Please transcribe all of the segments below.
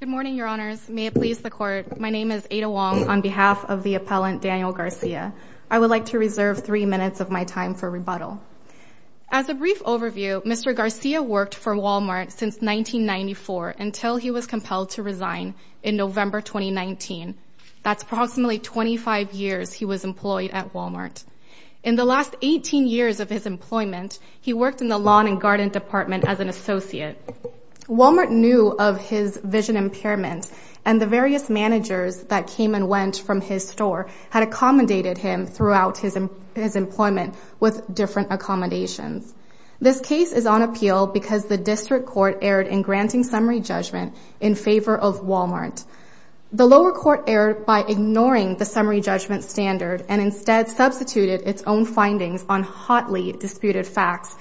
Good morning, Your Honors. May it please the Court, my name is Ada Wong on behalf of the appellant Daniel Garcia. I would like to reserve three minutes of my time for rebuttal. As a brief overview, Mr. Garcia worked for Walmart since 1994 until he was compelled to resign in November 2019. That's approximately 25 years he was employed at Walmart. In the last 18 years of his employment, he worked in the lawn and garden department as an associate. Walmart knew of his vision impairment, and the various managers that came and went from his store had accommodated him throughout his employment with different accommodations. This case is on appeal because the district court erred in granting summary judgment in favor of Walmart. The lower court erred by ignoring the summary judgment standard and instead substituted its own findings on hotly disputed facts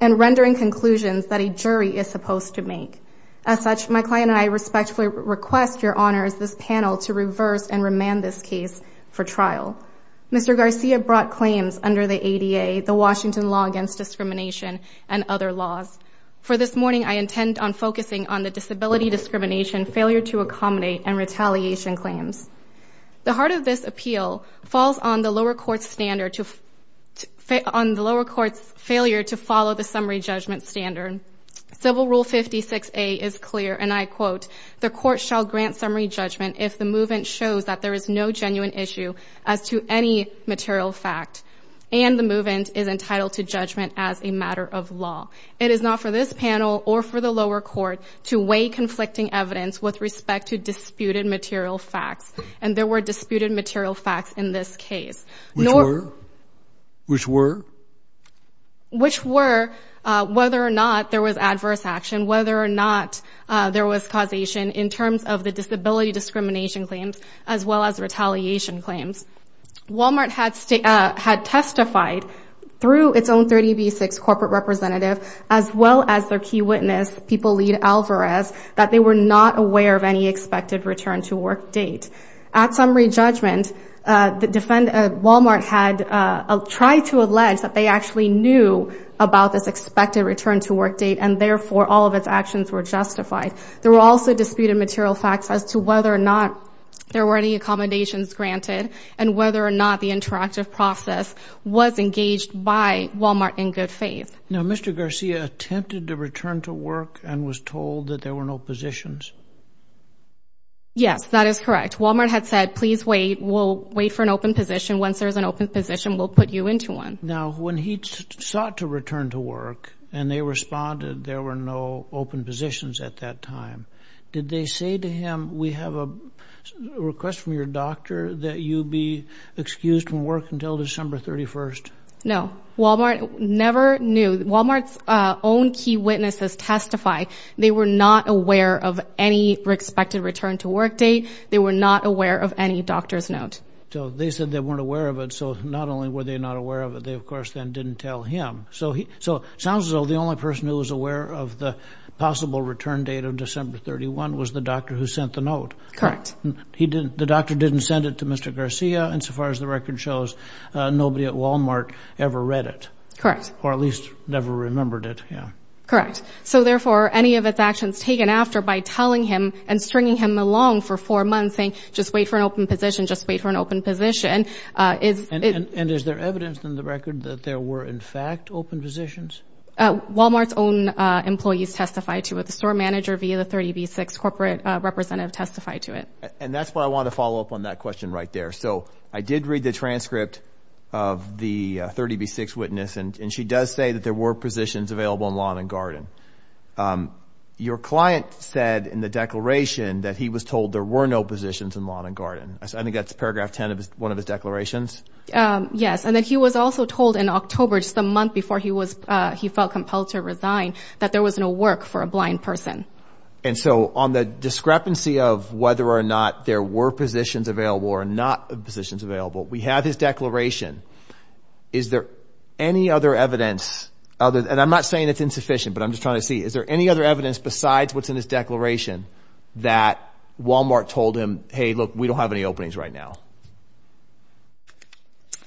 and rendering conclusions that a jury is supposed to make. As such, my client and I respectfully request, Your Honors, this panel to reverse and remand this case for trial. Mr. Garcia brought claims under the ADA, the Washington Law Against Discrimination, and other laws. For this morning, I intend on focusing on the disability discrimination, failure to accommodate, and retaliation claims. The heart of this appeal falls on the lower court's failure to follow the summary judgment standard. Civil Rule 56A is clear, and I quote, The court shall grant summary judgment if the movement shows that there is no genuine issue as to any material fact and the movement is entitled to judgment as a matter of law. It is not for this panel or for the lower court to weigh conflicting evidence with respect to disputed material facts. And there were disputed material facts in this case. Which were? Which were? Which were whether or not there was adverse action, whether or not there was causation in terms of the disability discrimination claims as well as retaliation claims. Walmart had testified through its own 30B6 corporate representative as well as their key witness, People Lead Alvarez, that they were not aware of any expected return to work date. At summary judgment, Walmart had tried to allege that they actually knew about this expected return to work date and therefore all of its actions were justified. There were also disputed material facts as to whether or not there were any accommodations granted and whether or not the interactive process was engaged by Walmart in good faith. Now, Mr. Garcia attempted to return to work and was told that there were no positions. Yes, that is correct. Walmart had said, please wait, we'll wait for an open position. Once there's an open position, we'll put you into one. Now, when he sought to return to work and they responded, there were no open positions at that time. Did they say to him, we have a request from your doctor that you be excused from work until December 31st? No, Walmart never knew. Walmart's own key witnesses testify they were not aware of any expected return to work date. They were not aware of any doctor's note. So, they said they weren't aware of it. So, not only were they not aware of it, they of course then didn't tell him. So, it sounds as though the only person who was aware of the possible return date of December 31 was the doctor who sent the note. Correct. The doctor didn't send it to Mr. Garcia and so far as the record shows, nobody at Walmart ever read it. Correct. Or at least never remembered it. Correct. So, therefore, any of its actions taken after by telling him and stringing him along for four months saying, just wait for an open position, just wait for an open position. And is there evidence in the record that there were in fact open positions? Walmart's own employees testified to it. The store manager via the 30B6 corporate representative testified to it. And that's why I want to follow up on that question right there. So, I did read the transcript of the 30B6 witness and she does say that there were positions available in Lawn and Garden. Your client said in the declaration that he was told there were no positions in Lawn and Garden. I think that's paragraph 10 of one of his declarations. Yes. And that he was also told in October, just a month before he felt compelled to resign, that there was no work for a blind person. And so, on the discrepancy of whether or not there were positions available or not positions available, we have his declaration. Is there any other evidence? And I'm not saying it's insufficient, but I'm just trying to see. Is there any other evidence besides what's in his declaration that Walmart told him, hey, look, we don't have any openings right now?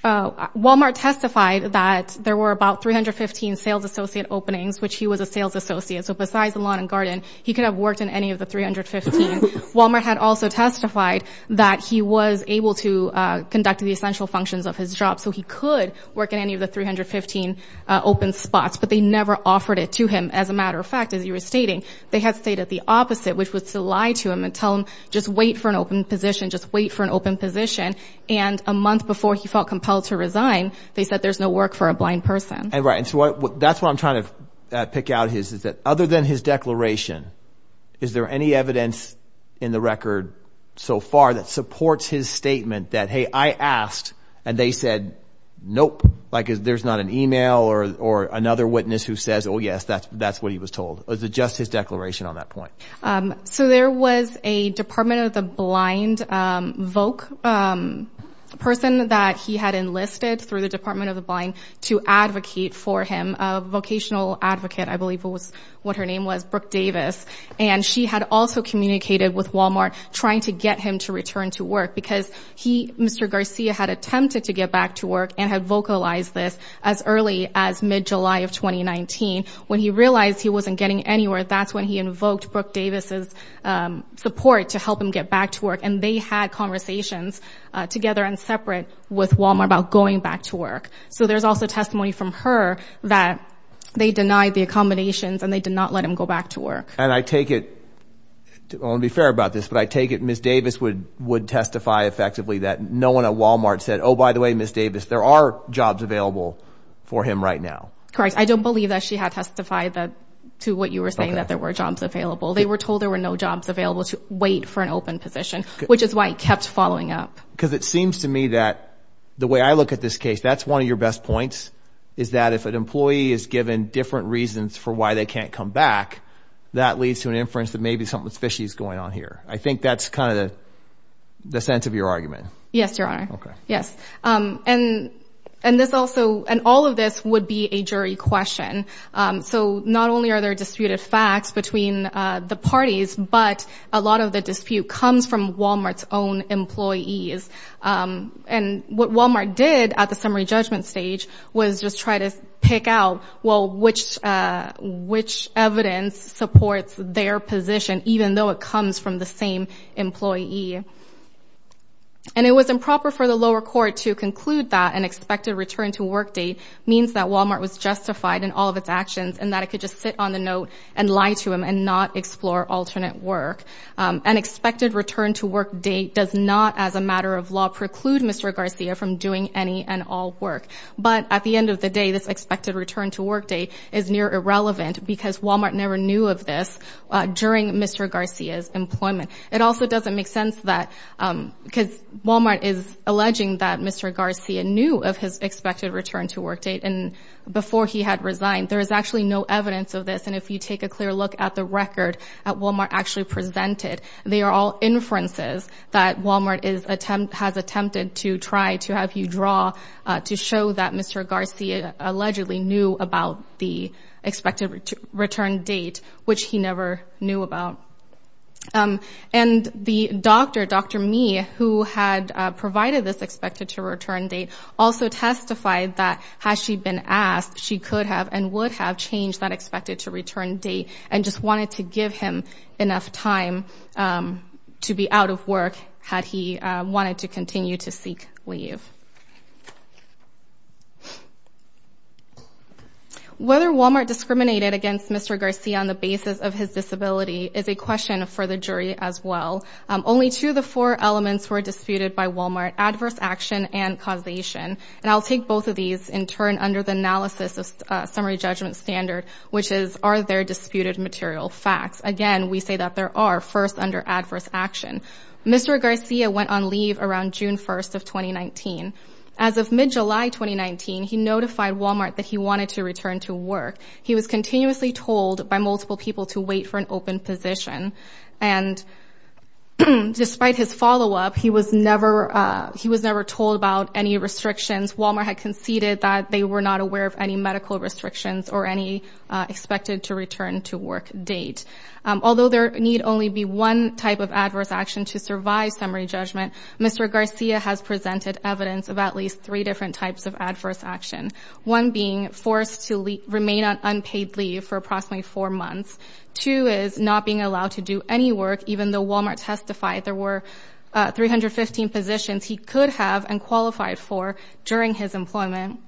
Walmart testified that there were about 315 sales associate openings, which he was a sales associate. So, besides Lawn and Garden, he could have worked in any of the 315. Walmart had also testified that he was able to conduct the essential functions of his job. So, he could work in any of the 315 open spots, but they never offered it to him. As a matter of fact, as you were stating, they had stated the opposite, which was to lie to him and tell him just wait for an open position, just wait for an open position. And a month before he felt compelled to resign, they said there's no work for a blind person. Right. And so, that's what I'm trying to pick out here is that other than his declaration, is there any evidence in the record so far that supports his statement that, hey, I asked and they said, nope, like there's not an email or another witness who says, oh, yes, that's what he was told. Was it just his declaration on that point? So, there was a Department of the Blind VOC person that he had enlisted through the Department of the Blind to advocate for him, a vocational advocate, I believe was what her name was, Brooke Davis. And she had also communicated with Walmart trying to get him to return to work because he, Mr. Garcia, had attempted to get back to work and had vocalized this as early as mid-July of 2019. When he realized he wasn't getting anywhere, that's when he invoked Brooke Davis' support to help him get back to work. And they had conversations together and separate with Walmart about going back to work. So, there's also testimony from her that they denied the accommodations and they did not let him go back to work. And I take it, I want to be fair about this, but I take it Ms. Davis would testify effectively that no one at Walmart said, oh, by the way, Ms. Davis, there are jobs available for him right now. Correct. I don't believe that she had testified to what you were saying, that there were jobs available. They were told there were no jobs available to wait for an open position, which is why he kept following up. Because it seems to me that the way I look at this case, that's one of your best points, is that if an employee is given different reasons for why they can't come back, that leads to an inference that maybe something fishy is going on here. I think that's kind of the sense of your argument. Yes, Your Honor. Yes. And this also, and all of this would be a jury question. So, not only are there disputed facts between the parties, but a lot of the dispute comes from Walmart's own employees. And what Walmart did at the summary judgment stage was just try to pick out, well, which evidence supports their position, even though it comes from the same employee. And it was improper for the lower court to conclude that an expected return to work date means that Walmart was justified in all of its actions and that it could just sit on the note and lie to him and not explore alternate work. An expected return to work date does not, as a matter of law, preclude Mr. Garcia from doing any and all work. But at the end of the day, this expected return to work date is near irrelevant because Walmart never knew of this during Mr. Garcia's employment. It also doesn't make sense that, because Walmart is alleging that Mr. Garcia knew of his expected return to work date and before he had resigned, there is actually no evidence of this. And if you take a clear look at the record that Walmart actually presented, they are all inferences that Walmart has attempted to try to have you draw to show that Mr. Garcia allegedly knew about the expected return date, which he never knew about. And the doctor, Dr. Mi, who had provided this expected to return date, also testified that, had she been asked, she could have and would have changed that expected to return date and just wanted to give him enough time to be out of work had he wanted to continue to seek leave. Whether Walmart discriminated against Mr. Garcia on the basis of his disability is a question for the jury as well. Only two of the four elements were disputed by Walmart, adverse action and causation. And I'll take both of these in turn under the analysis of summary judgment standard, which is, are there disputed material facts? Again, we say that there are first under adverse action. Mr. Garcia went on leave around June 1st of 2019. As of mid-July 2019, he notified Walmart that he wanted to return to work. He was continuously told by multiple people to wait for an open position. And despite his follow-up, he was never told about any restrictions. Walmart had conceded that they were not aware of any medical restrictions or any expected to return to work date. Although there need only be one type of adverse action to survive summary judgment, Mr. Garcia has presented evidence of at least three different types of adverse action, one being forced to remain on unpaid leave for approximately four months. Two is not being allowed to do any work, even though Walmart testified there were 315 positions he could have and qualified for during his employment.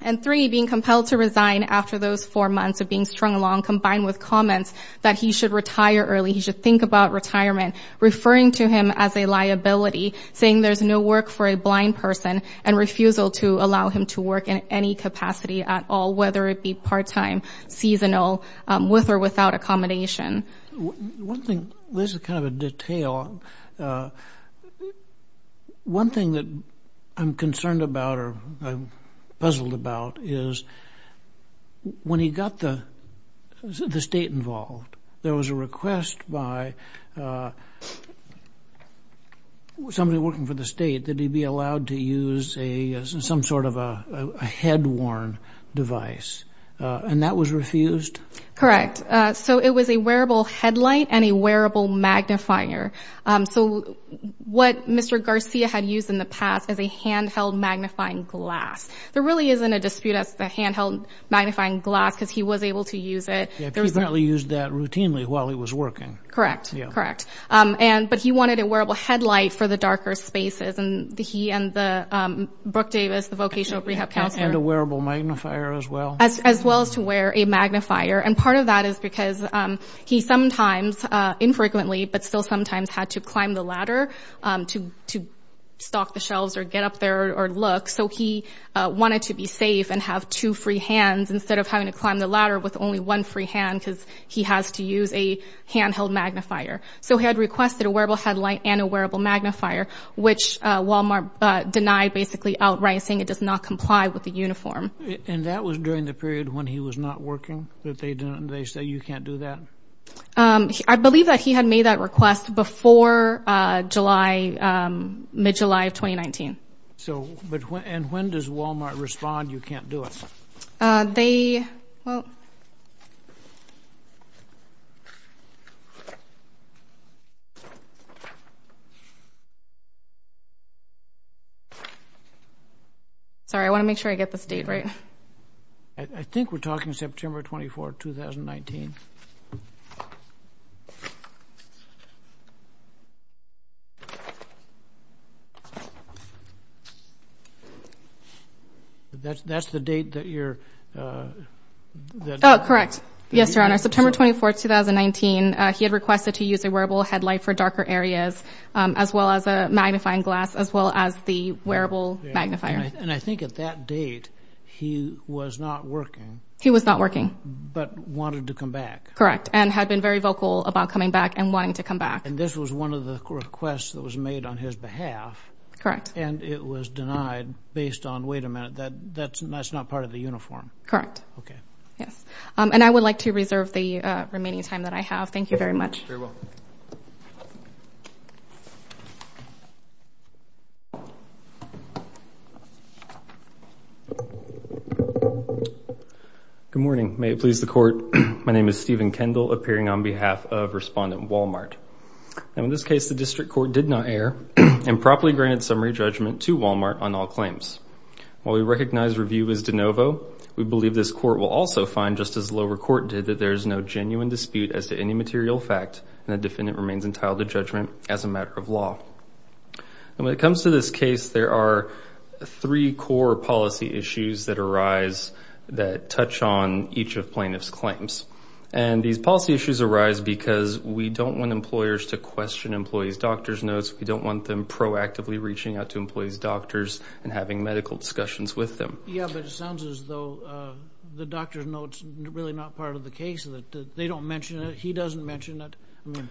And three, being compelled to resign after those four months of being strung along, combined with comments that he should retire early, he should think about retirement, referring to him as a liability, saying there's no work for a blind person, and refusal to allow him to work in any capacity at all, whether it be part-time, seasonal, with or without accommodation. One thing, this is kind of a detail. One thing that I'm concerned about or puzzled about is when he got the state involved, there was a request by somebody working for the state that he be allowed to use some sort of a head-worn device, and that was refused? Correct. So it was a wearable headlight and a wearable magnifier. So what Mr. Garcia had used in the past is a handheld magnifying glass. There really isn't a dispute as to the handheld magnifying glass because he was able to use it. He apparently used that routinely while he was working. Correct, correct. But he wanted a wearable headlight for the darker spaces, and he and the Brook Davis, the vocational rehab counselor. And a wearable magnifier as well. As well as to wear a magnifier, and part of that is because he sometimes, infrequently, but still sometimes had to climb the ladder to stalk the shelves or get up there or look. So he wanted to be safe and have two free hands instead of having to climb the ladder with only one free hand because he has to use a handheld magnifier. So he had requested a wearable headlight and a wearable magnifier, which Walmart denied basically outright saying it does not comply with the uniform. And that was during the period when he was not working, that they said you can't do that? I believe that he had made that request before mid-July of 2019. And when does Walmart respond you can't do it? Sorry, I want to make sure I get this date right. I think we're talking September 24, 2019. That's the date that you're... Correct. Yes, Your Honor. September 24, 2019, he had requested to use a wearable headlight for darker areas, as well as a magnifying glass, as well as the wearable magnifier. And I think at that date he was not working. He was not working. But wanted to come back. Correct, and had been very vocal about coming back and wanting to come back. And this was one of the requests that was made on his behalf. Correct. And it was denied based on, wait a minute, that's not part of the uniform. Correct. Okay. Yes, and I would like to reserve the remaining time that I have. Thank you very much. You're very welcome. Good morning. May it please the Court, my name is Stephen Kendall, appearing on behalf of Respondent Walmart. And in this case, the District Court did not err and properly granted summary judgment to Walmart on all claims. While we recognize review is de novo, we believe this Court will also find, just as the lower court did, that there is no genuine dispute as to any material fact and the defendant remains entitled to judgment as a matter of law. And when it comes to this case, there are three core policy issues that arise that touch on each of plaintiff's claims. And these policy issues arise because we don't want employers to question employees' doctor's notes, we don't want them proactively reaching out to employees' doctors and having medical discussions with them. Yeah, but it sounds as though the doctor's note's really not part of the case, that they don't mention it, he doesn't mention it. I mean,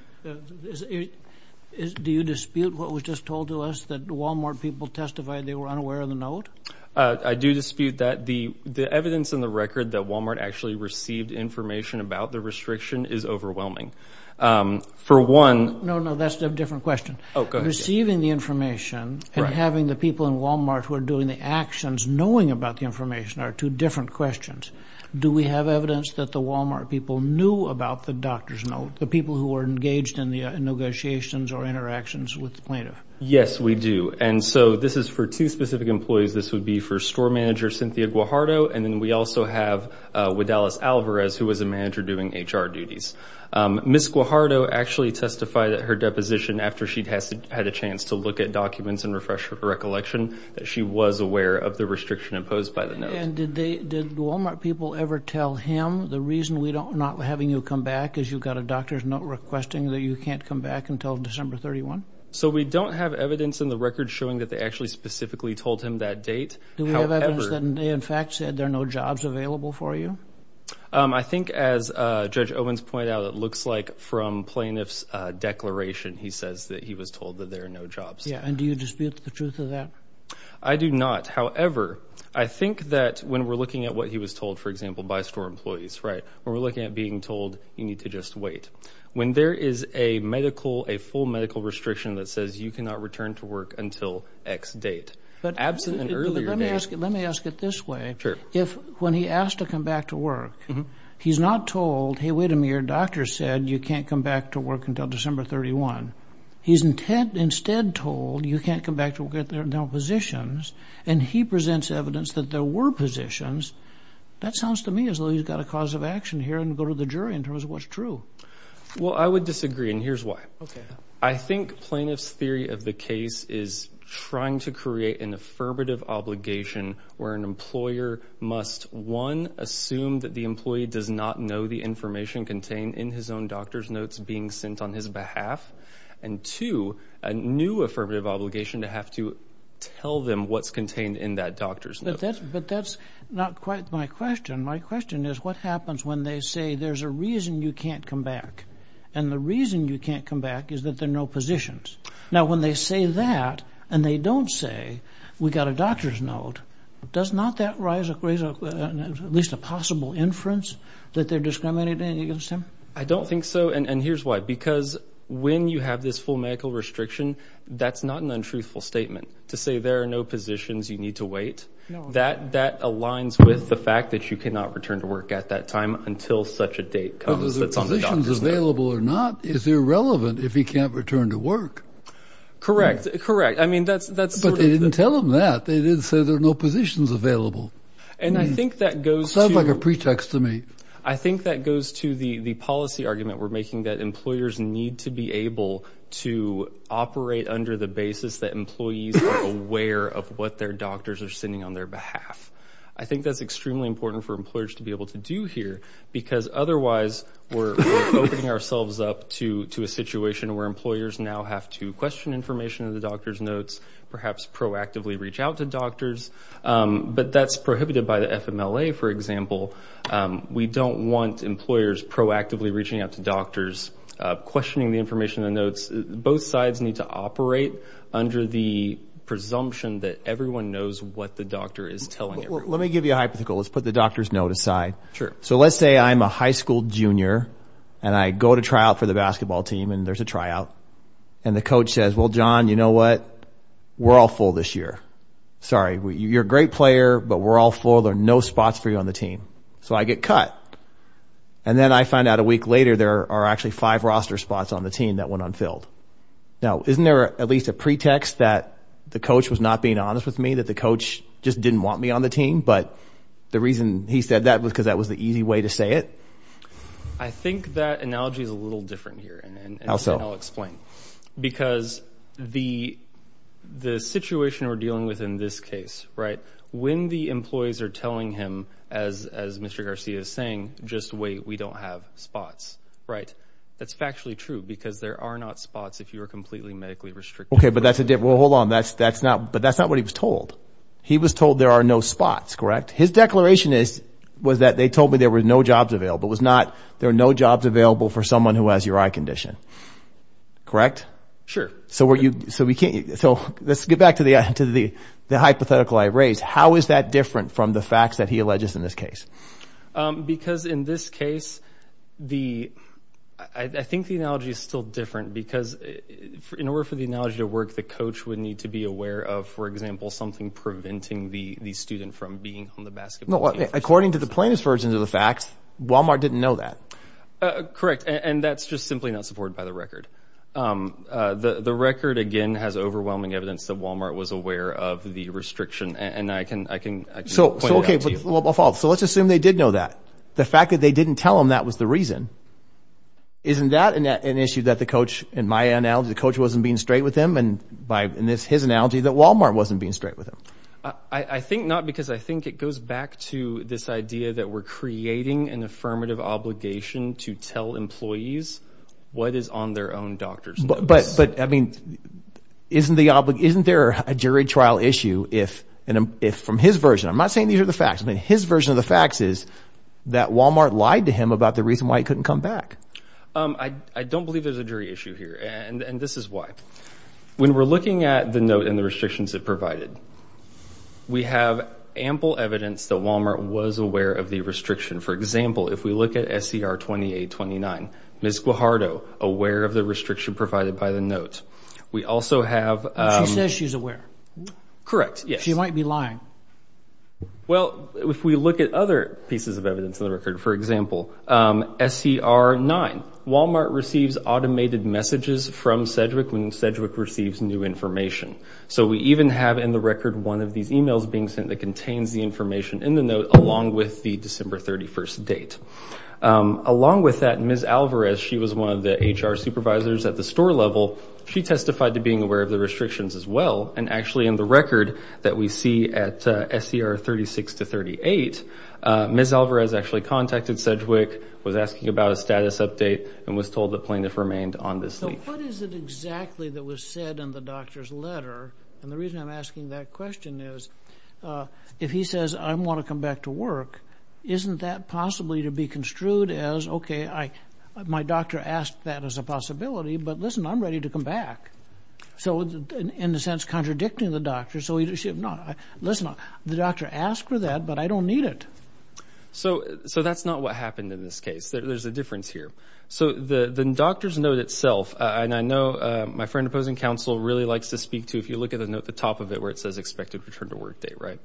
do you dispute what was just told to us, that Walmart people testified they were unaware of the note? I do dispute that. The evidence in the record that Walmart actually received information about the restriction is overwhelming. No, no, that's a different question. Receiving the information and having the people in Walmart who are doing the actions knowing about the information are two different questions. Do we have evidence that the Walmart people knew about the doctor's note, the people who were engaged in the negotiations or interactions with the plaintiff? Yes, we do. And so this is for two specific employees. This would be for store manager Cynthia Guajardo, and then we also have Widalis Alvarez, who was a manager doing HR duties. Ms. Guajardo actually testified at her deposition after she had a chance to look at documents and refresh her recollection that she was aware of the restriction imposed by the note. And did Walmart people ever tell him, the reason we're not having you come back is you've got a doctor's note requesting that you can't come back until December 31? So we don't have evidence in the record showing that they actually specifically told him that date. Do we have evidence that they in fact said there are no jobs available for you? I think as Judge Owens pointed out, it looks like from plaintiff's declaration, he says that he was told that there are no jobs. And do you dispute the truth of that? I do not. However, I think that when we're looking at what he was told, for example, by store employees, when we're looking at being told you need to just wait, when there is a medical, a full medical restriction that says you cannot return to work until X date, absent an earlier date. But let me ask it this way. Sure. If when he asked to come back to work, he's not told, hey, wait a minute, your doctor said you can't come back to work until December 31. He's instead told you can't come back until positions, and he presents evidence that there were positions. That sounds to me as though he's got a cause of action here and go to the jury in terms of what's true. Well, I would disagree, and here's why. Okay. I think plaintiff's theory of the case is trying to create an affirmative obligation where an employer must, one, assume that the employee does not know the information contained in his own doctor's notes being sent on his behalf, and, two, a new affirmative obligation to have to tell them what's contained in that doctor's note. But that's not quite my question. My question is what happens when they say there's a reason you can't come back, and the reason you can't come back is that there are no positions? Now, when they say that and they don't say we've got a doctor's note, does not that raise at least a possible inference that they're discriminating against him? I don't think so, and here's why. Because when you have this full medical restriction, that's not an untruthful statement. To say there are no positions, you need to wait, that aligns with the fact that you cannot return to work at that time until such a date comes that's on the doctor's note. If there are no positions available or not, is it irrelevant if he can't return to work? Correct, correct. But they didn't tell him that. They didn't say there are no positions available. Sounds like a pretext to me. I think that goes to the policy argument we're making that employers need to be able to operate under the basis that employees are aware of what their doctors are sending on their behalf. I think that's extremely important for employers to be able to do here because otherwise we're opening ourselves up to a situation where employers now have to question information in the doctor's notes, perhaps proactively reach out to doctors. But that's prohibited by the FMLA, for example. We don't want employers proactively reaching out to doctors, questioning the information in the notes. Both sides need to operate under the presumption that everyone knows what the doctor is telling everyone. Let me give you a hypothetical. Let's put the doctor's note aside. Sure. So let's say I'm a high school junior, and I go to tryout for the basketball team, and there's a tryout. And the coach says, well, John, you know what? We're all full this year. Sorry, you're a great player, but we're all full. There are no spots for you on the team. So I get cut. Then I find out a week later there are actually five roster spots on the team that went unfilled. Now, isn't there at least a pretext that the coach was not being honest with me, that the coach just didn't want me on the team? But the reason he said that was because that was the easy way to say it? I think that analogy is a little different here. How so? And I'll explain. Because the situation we're dealing with in this case, right, when the employees are telling him, as Mr. Garcia is saying, just wait, we don't have spots, right, that's factually true because there are not spots if you are completely medically restricted. Okay, but that's a difference. Well, hold on. But that's not what he was told. He was told there are no spots, correct? His declaration was that they told me there were no jobs available. It was not there are no jobs available for someone who has your eye condition. Correct? Sure. So let's get back to the hypothetical I raised. How is that different from the facts that he alleges in this case? Because in this case, I think the analogy is still different because in order for the analogy to work, the coach would need to be aware of, for example, something preventing the student from being on the basketball team. According to the plaintiff's version of the fact, Walmart didn't know that. Correct. And that's just simply not supported by the record. The record, again, has overwhelming evidence that Walmart was aware of the restriction. And I can point it out to you. So let's assume they did know that. The fact that they didn't tell him that was the reason. Isn't that an issue that the coach, in my analogy, the coach wasn't being straight with him, and by his analogy, that Walmart wasn't being straight with him? I think not because I think it goes back to this idea that we're creating an affirmative obligation to tell employees what is on their own doctor's notice. But, I mean, isn't there a jury trial issue if, from his version, I'm not saying these are the facts, but his version of the facts is that Walmart lied to him about the reason why he couldn't come back. I don't believe there's a jury issue here. And this is why. When we're looking at the note and the restrictions it provided, we have ample evidence that Walmart was aware of the restriction. For example, if we look at SCR 2829, Ms. Guajardo, aware of the restriction provided by the note. We also have- She says she's aware. Correct, yes. She might be lying. Well, if we look at other pieces of evidence in the record, for example, SCR 9, Walmart receives automated messages from Sedgwick when Sedgwick receives new information. So we even have in the record one of these e-mails being sent that contains the information in the note, along with the December 31st date. Along with that, Ms. Alvarez, she was one of the HR supervisors at the store level. She testified to being aware of the restrictions as well. And, actually, in the record that we see at SCR 36 to 38, Ms. Alvarez actually contacted Sedgwick, was asking about a status update, and was told the plaintiff remained on this leave. So what is it exactly that was said in the doctor's letter? And the reason I'm asking that question is if he says, I want to come back to work, isn't that possibly to be construed as, okay, my doctor asked that as a possibility, but, listen, I'm ready to come back. So, in a sense, contradicting the doctor. Listen, the doctor asked for that, but I don't need it. So that's not what happened in this case. There's a difference here. So the doctor's note itself, and I know my friend opposing counsel really likes to speak to, if you look at the note at the top of it where it says expected return to work date, right?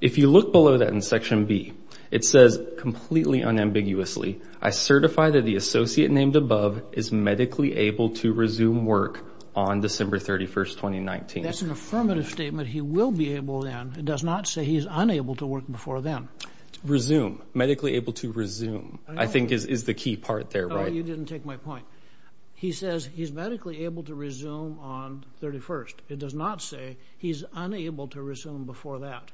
If you look below that in Section B, it says completely unambiguously, I certify that the associate named above is medically able to resume work on December 31st, 2019. That's an affirmative statement. But he will be able then, it does not say he's unable to work before then. Resume, medically able to resume, I think is the key part there, right? Oh, you didn't take my point. He says he's medically able to resume on 31st. It does not say he's unable to resume before that.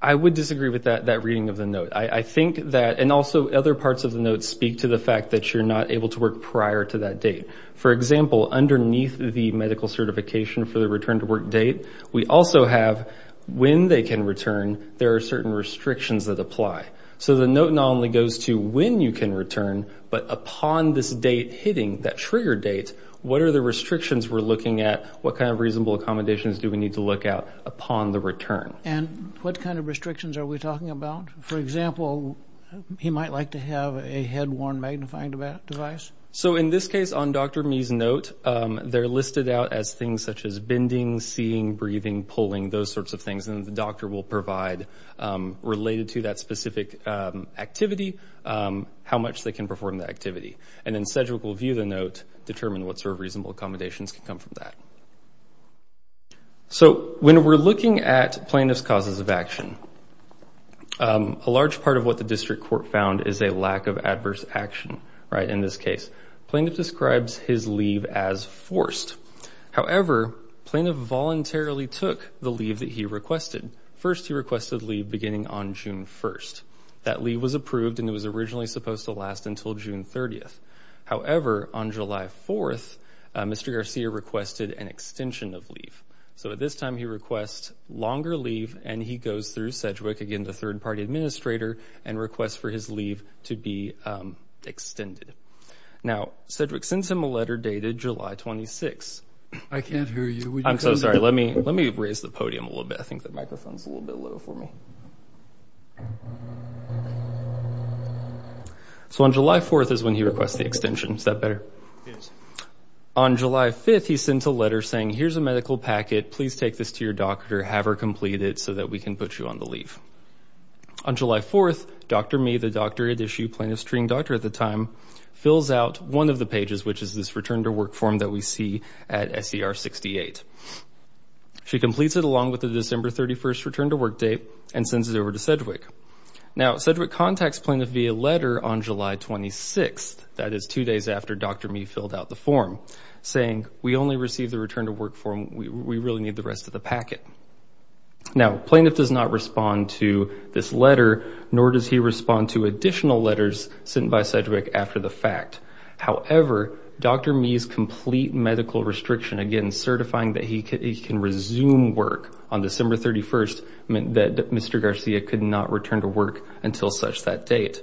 I would disagree with that reading of the note. I think that, and also other parts of the note speak to the fact that you're not able to work prior to that date. For example, underneath the medical certification for the return to work date, we also have when they can return, there are certain restrictions that apply. So the note not only goes to when you can return, but upon this date hitting, that trigger date, what are the restrictions we're looking at, what kind of reasonable accommodations do we need to look at upon the return? And what kind of restrictions are we talking about? For example, he might like to have a head-worn magnifying device. So in this case, on Dr. Mee's note, they're listed out as things such as bending, seeing, breathing, pulling, those sorts of things, and the doctor will provide, related to that specific activity, how much they can perform the activity. And then Cedric will view the note, determine what sort of reasonable accommodations can come from that. So when we're looking at plaintiff's causes of action, a large part of what the district court found is a lack of adverse action, right, in this case. Plaintiff describes his leave as forced. However, plaintiff voluntarily took the leave that he requested. First, he requested leave beginning on June 1st. That leave was approved, and it was originally supposed to last until June 30th. However, on July 4th, Mr. Garcia requested an extension of leave. So at this time, he requests longer leave, and he goes through Cedric, again, the third-party administrator, and requests for his leave to be extended. Now, Cedric sends him a letter dated July 26th. I can't hear you. I'm so sorry. Let me raise the podium a little bit. I think the microphone's a little bit low for me. So on July 4th is when he requests the extension. Is that better? Yes. On July 5th, he sends a letter saying, here's a medical packet. Please take this to your doctor. Have her complete it so that we can put you on the leave. On July 4th, Dr. Mee, the doctorate issue plaintiff's treating doctor at the time, fills out one of the pages, which is this return to work form that we see at SER 68. She completes it along with the December 31st return to work date and sends it over to Cedric. Now, Cedric contacts plaintiff via letter on July 26th. That is two days after Dr. Mee filled out the form, saying, we only received the return to work form. We really need the rest of the packet. Now, plaintiff does not respond to this letter, nor does he respond to additional letters sent by Cedric after the fact. However, Dr. Mee's complete medical restriction, again, certifying that he can resume work on December 31st, meant that Mr. Garcia could not return to work until such that date.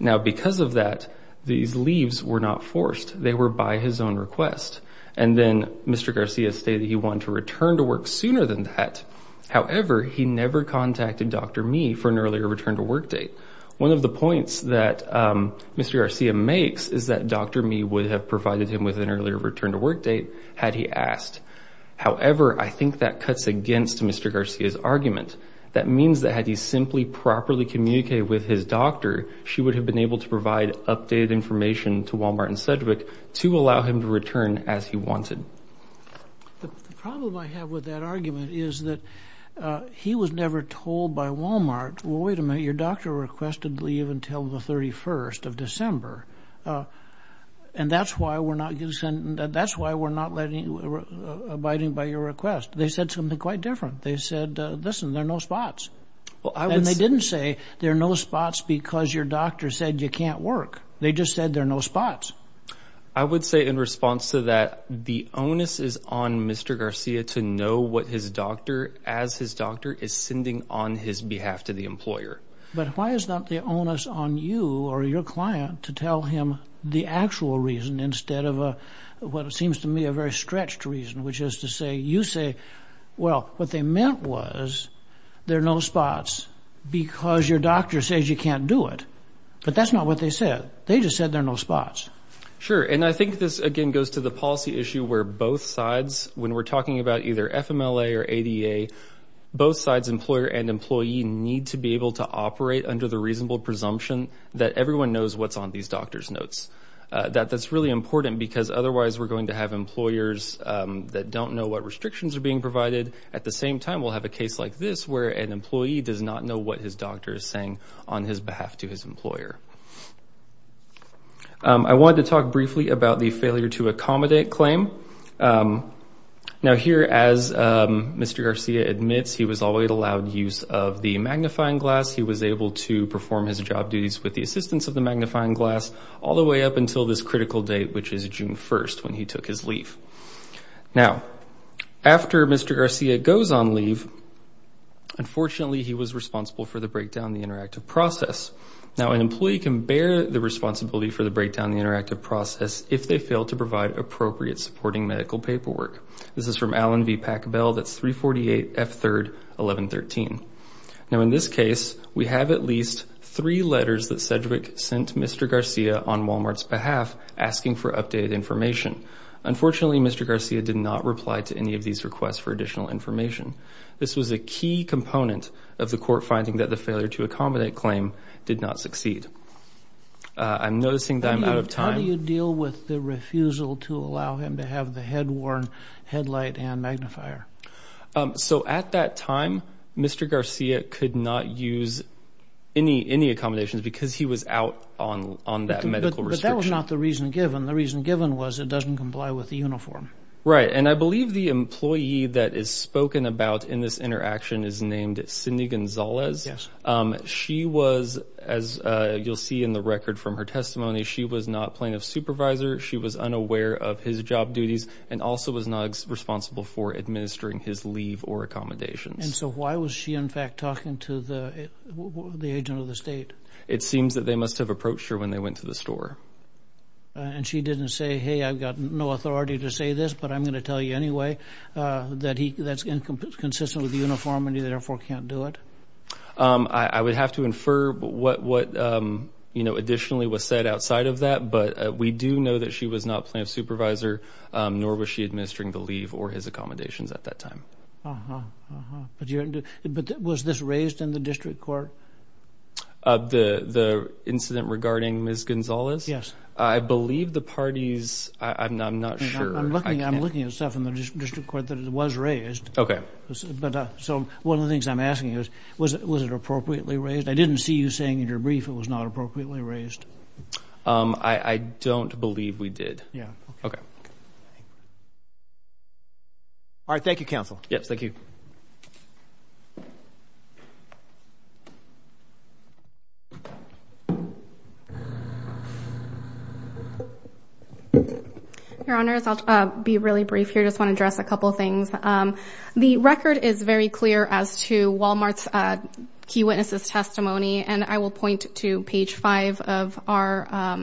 Now, because of that, these leaves were not forced. They were by his own request. And then Mr. Garcia stated he wanted to return to work sooner than that. However, he never contacted Dr. Mee for an earlier return to work date. One of the points that Mr. Garcia makes is that Dr. Mee would have provided him with an earlier return to work date had he asked. However, I think that cuts against Mr. Garcia's argument. That means that had he simply properly communicated with his doctor, she would have been able to provide updated information to Wal-Mart and Cedric to allow him to return as he wanted. The problem I have with that argument is that he was never told by Wal-Mart, well, wait a minute, your doctor requested leave until the 31st of December, and that's why we're not abiding by your request. They said something quite different. They said, listen, there are no spots. And they didn't say there are no spots because your doctor said you can't work. They just said there are no spots. I would say in response to that, the onus is on Mr. Garcia to know what his doctor, as his doctor, is sending on his behalf to the employer. But why is not the onus on you or your client to tell him the actual reason instead of what seems to me a very stretched reason, which is to say you say, well, what they meant was there are no spots because your doctor says you can't do it. But that's not what they said. They just said there are no spots. Sure, and I think this, again, goes to the policy issue where both sides, when we're talking about either FMLA or ADA, both sides, employer and employee, need to be able to operate under the reasonable presumption that everyone knows what's on these doctor's notes. That's really important because otherwise we're going to have employers that don't know what restrictions are being provided. At the same time, we'll have a case like this, where an employee does not know what his doctor is saying on his behalf to his employer. I wanted to talk briefly about the failure to accommodate claim. Now, here, as Mr. Garcia admits, he was always allowed use of the magnifying glass. He was able to perform his job duties with the assistance of the magnifying glass all the way up until this critical date, which is June 1st, when he took his leave. Now, after Mr. Garcia goes on leave, unfortunately, he was responsible for the breakdown of the interactive process. Now, an employee can bear the responsibility for the breakdown of the interactive process if they fail to provide appropriate supporting medical paperwork. This is from Alan V. Packbell. That's 348 F3rd 1113. Now, in this case, we have at least three letters that Sedgwick sent Mr. Garcia on Walmart's behalf asking for updated information. Unfortunately, Mr. Garcia did not reply to any of these requests for additional information. This was a key component of the court finding that the failure to accommodate claim did not succeed. I'm noticing that I'm out of time. How do you deal with the refusal to allow him to have the head-worn headlight and magnifier? So at that time, Mr. Garcia could not use any accommodations because he was out on that medical restriction. But that was not the reason given. The reason given was it doesn't comply with the uniform. Right, and I believe the employee that is spoken about in this interaction is named Cindy Gonzalez. Yes. She was, as you'll see in the record from her testimony, she was not plaintiff's supervisor. She was unaware of his job duties and also was not responsible for administering his leave or accommodations. And so why was she, in fact, talking to the agent of the state? It seems that they must have approached her when they went to the store. And she didn't say, hey, I've got no authority to say this, but I'm going to tell you anyway, that that's inconsistent with the uniform and you therefore can't do it? I would have to infer what, you know, additionally was said outside of that. But we do know that she was not plaintiff's supervisor, nor was she administering the leave or his accommodations at that time. Uh-huh, uh-huh. But was this raised in the district court? The incident regarding Ms. Gonzalez? Yes. I believe the parties, I'm not sure. I'm looking at stuff in the district court that it was raised. Okay. So one of the things I'm asking is, was it appropriately raised? I didn't see you saying in your brief it was not appropriately raised. I don't believe we did. Yeah. Okay. All right, thank you, counsel. Yes, thank you. Your Honors, I'll be really brief here. I just want to address a couple of things. The record is very clear as to Walmart's key witnesses' testimony, and I will point to page five of our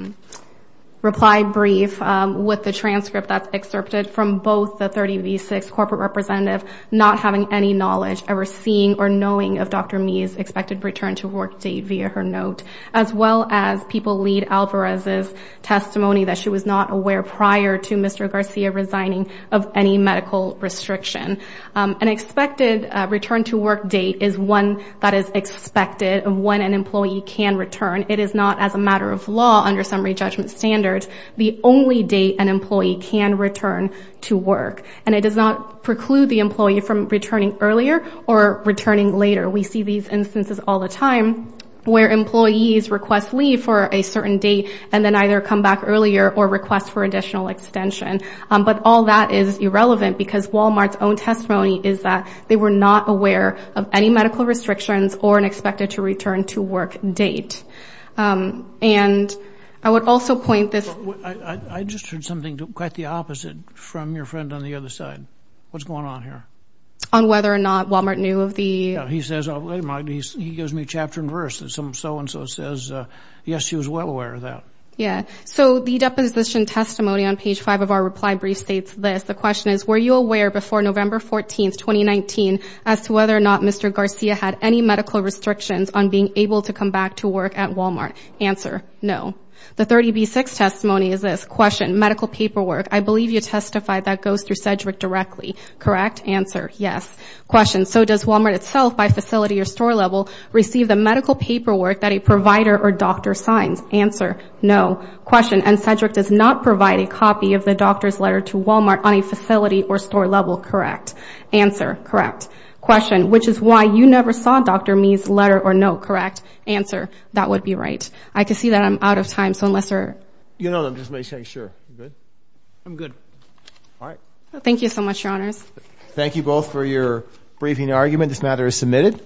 reply brief with the transcript that's excerpted from both the 30 v. 6 corporate representative not having any knowledge, ever seeing or knowing of Dr. Mee's expected return to work date via her note, as well as People Lead Alvarez's testimony that she was not aware prior to Mr. Garcia resigning of any medical restriction. An expected return to work date is one that is expected of when an employee can return. It is not, as a matter of law, under summary judgment standards, the only date an employee can return to work. And it does not preclude the employee from returning earlier or returning later. We see these instances all the time where employees request leave for a certain date and then either come back earlier or request for additional extension. But all that is irrelevant because Walmart's own testimony is that they were not aware of any medical restrictions or an expected to return to work date. And I would also point this. I just heard something quite the opposite from your friend on the other side. What's going on here? On whether or not Walmart knew of the... He says, wait a minute, he gives me chapter and verse that some so-and-so says, yes, she was well aware of that. Yeah. So the deposition testimony on page 5 of our reply brief states this. The question is, were you aware before November 14, 2019, as to whether or not Mr. Garcia had any medical restrictions on being able to come back to work at Walmart? Answer, no. The 30B6 testimony is this. Question, medical paperwork, I believe you testified that goes through Cedric directly. Correct? Answer, yes. Question, so does Walmart itself by facility or store level receive the medical paperwork that a provider or doctor signs? Answer, no. Question, and Cedric does not provide a copy of the doctor's letter to Walmart on a facility or store level. Correct? Answer, correct. Question, which is why you never saw Dr. Mee's letter or note. Correct? Answer, that would be right. I can see that I'm out of time, so unless there are... You know them, just make sure. You good? I'm good. All right. Thank you so much, Your Honors. Thank you both for your briefing argument. This matter is submitted.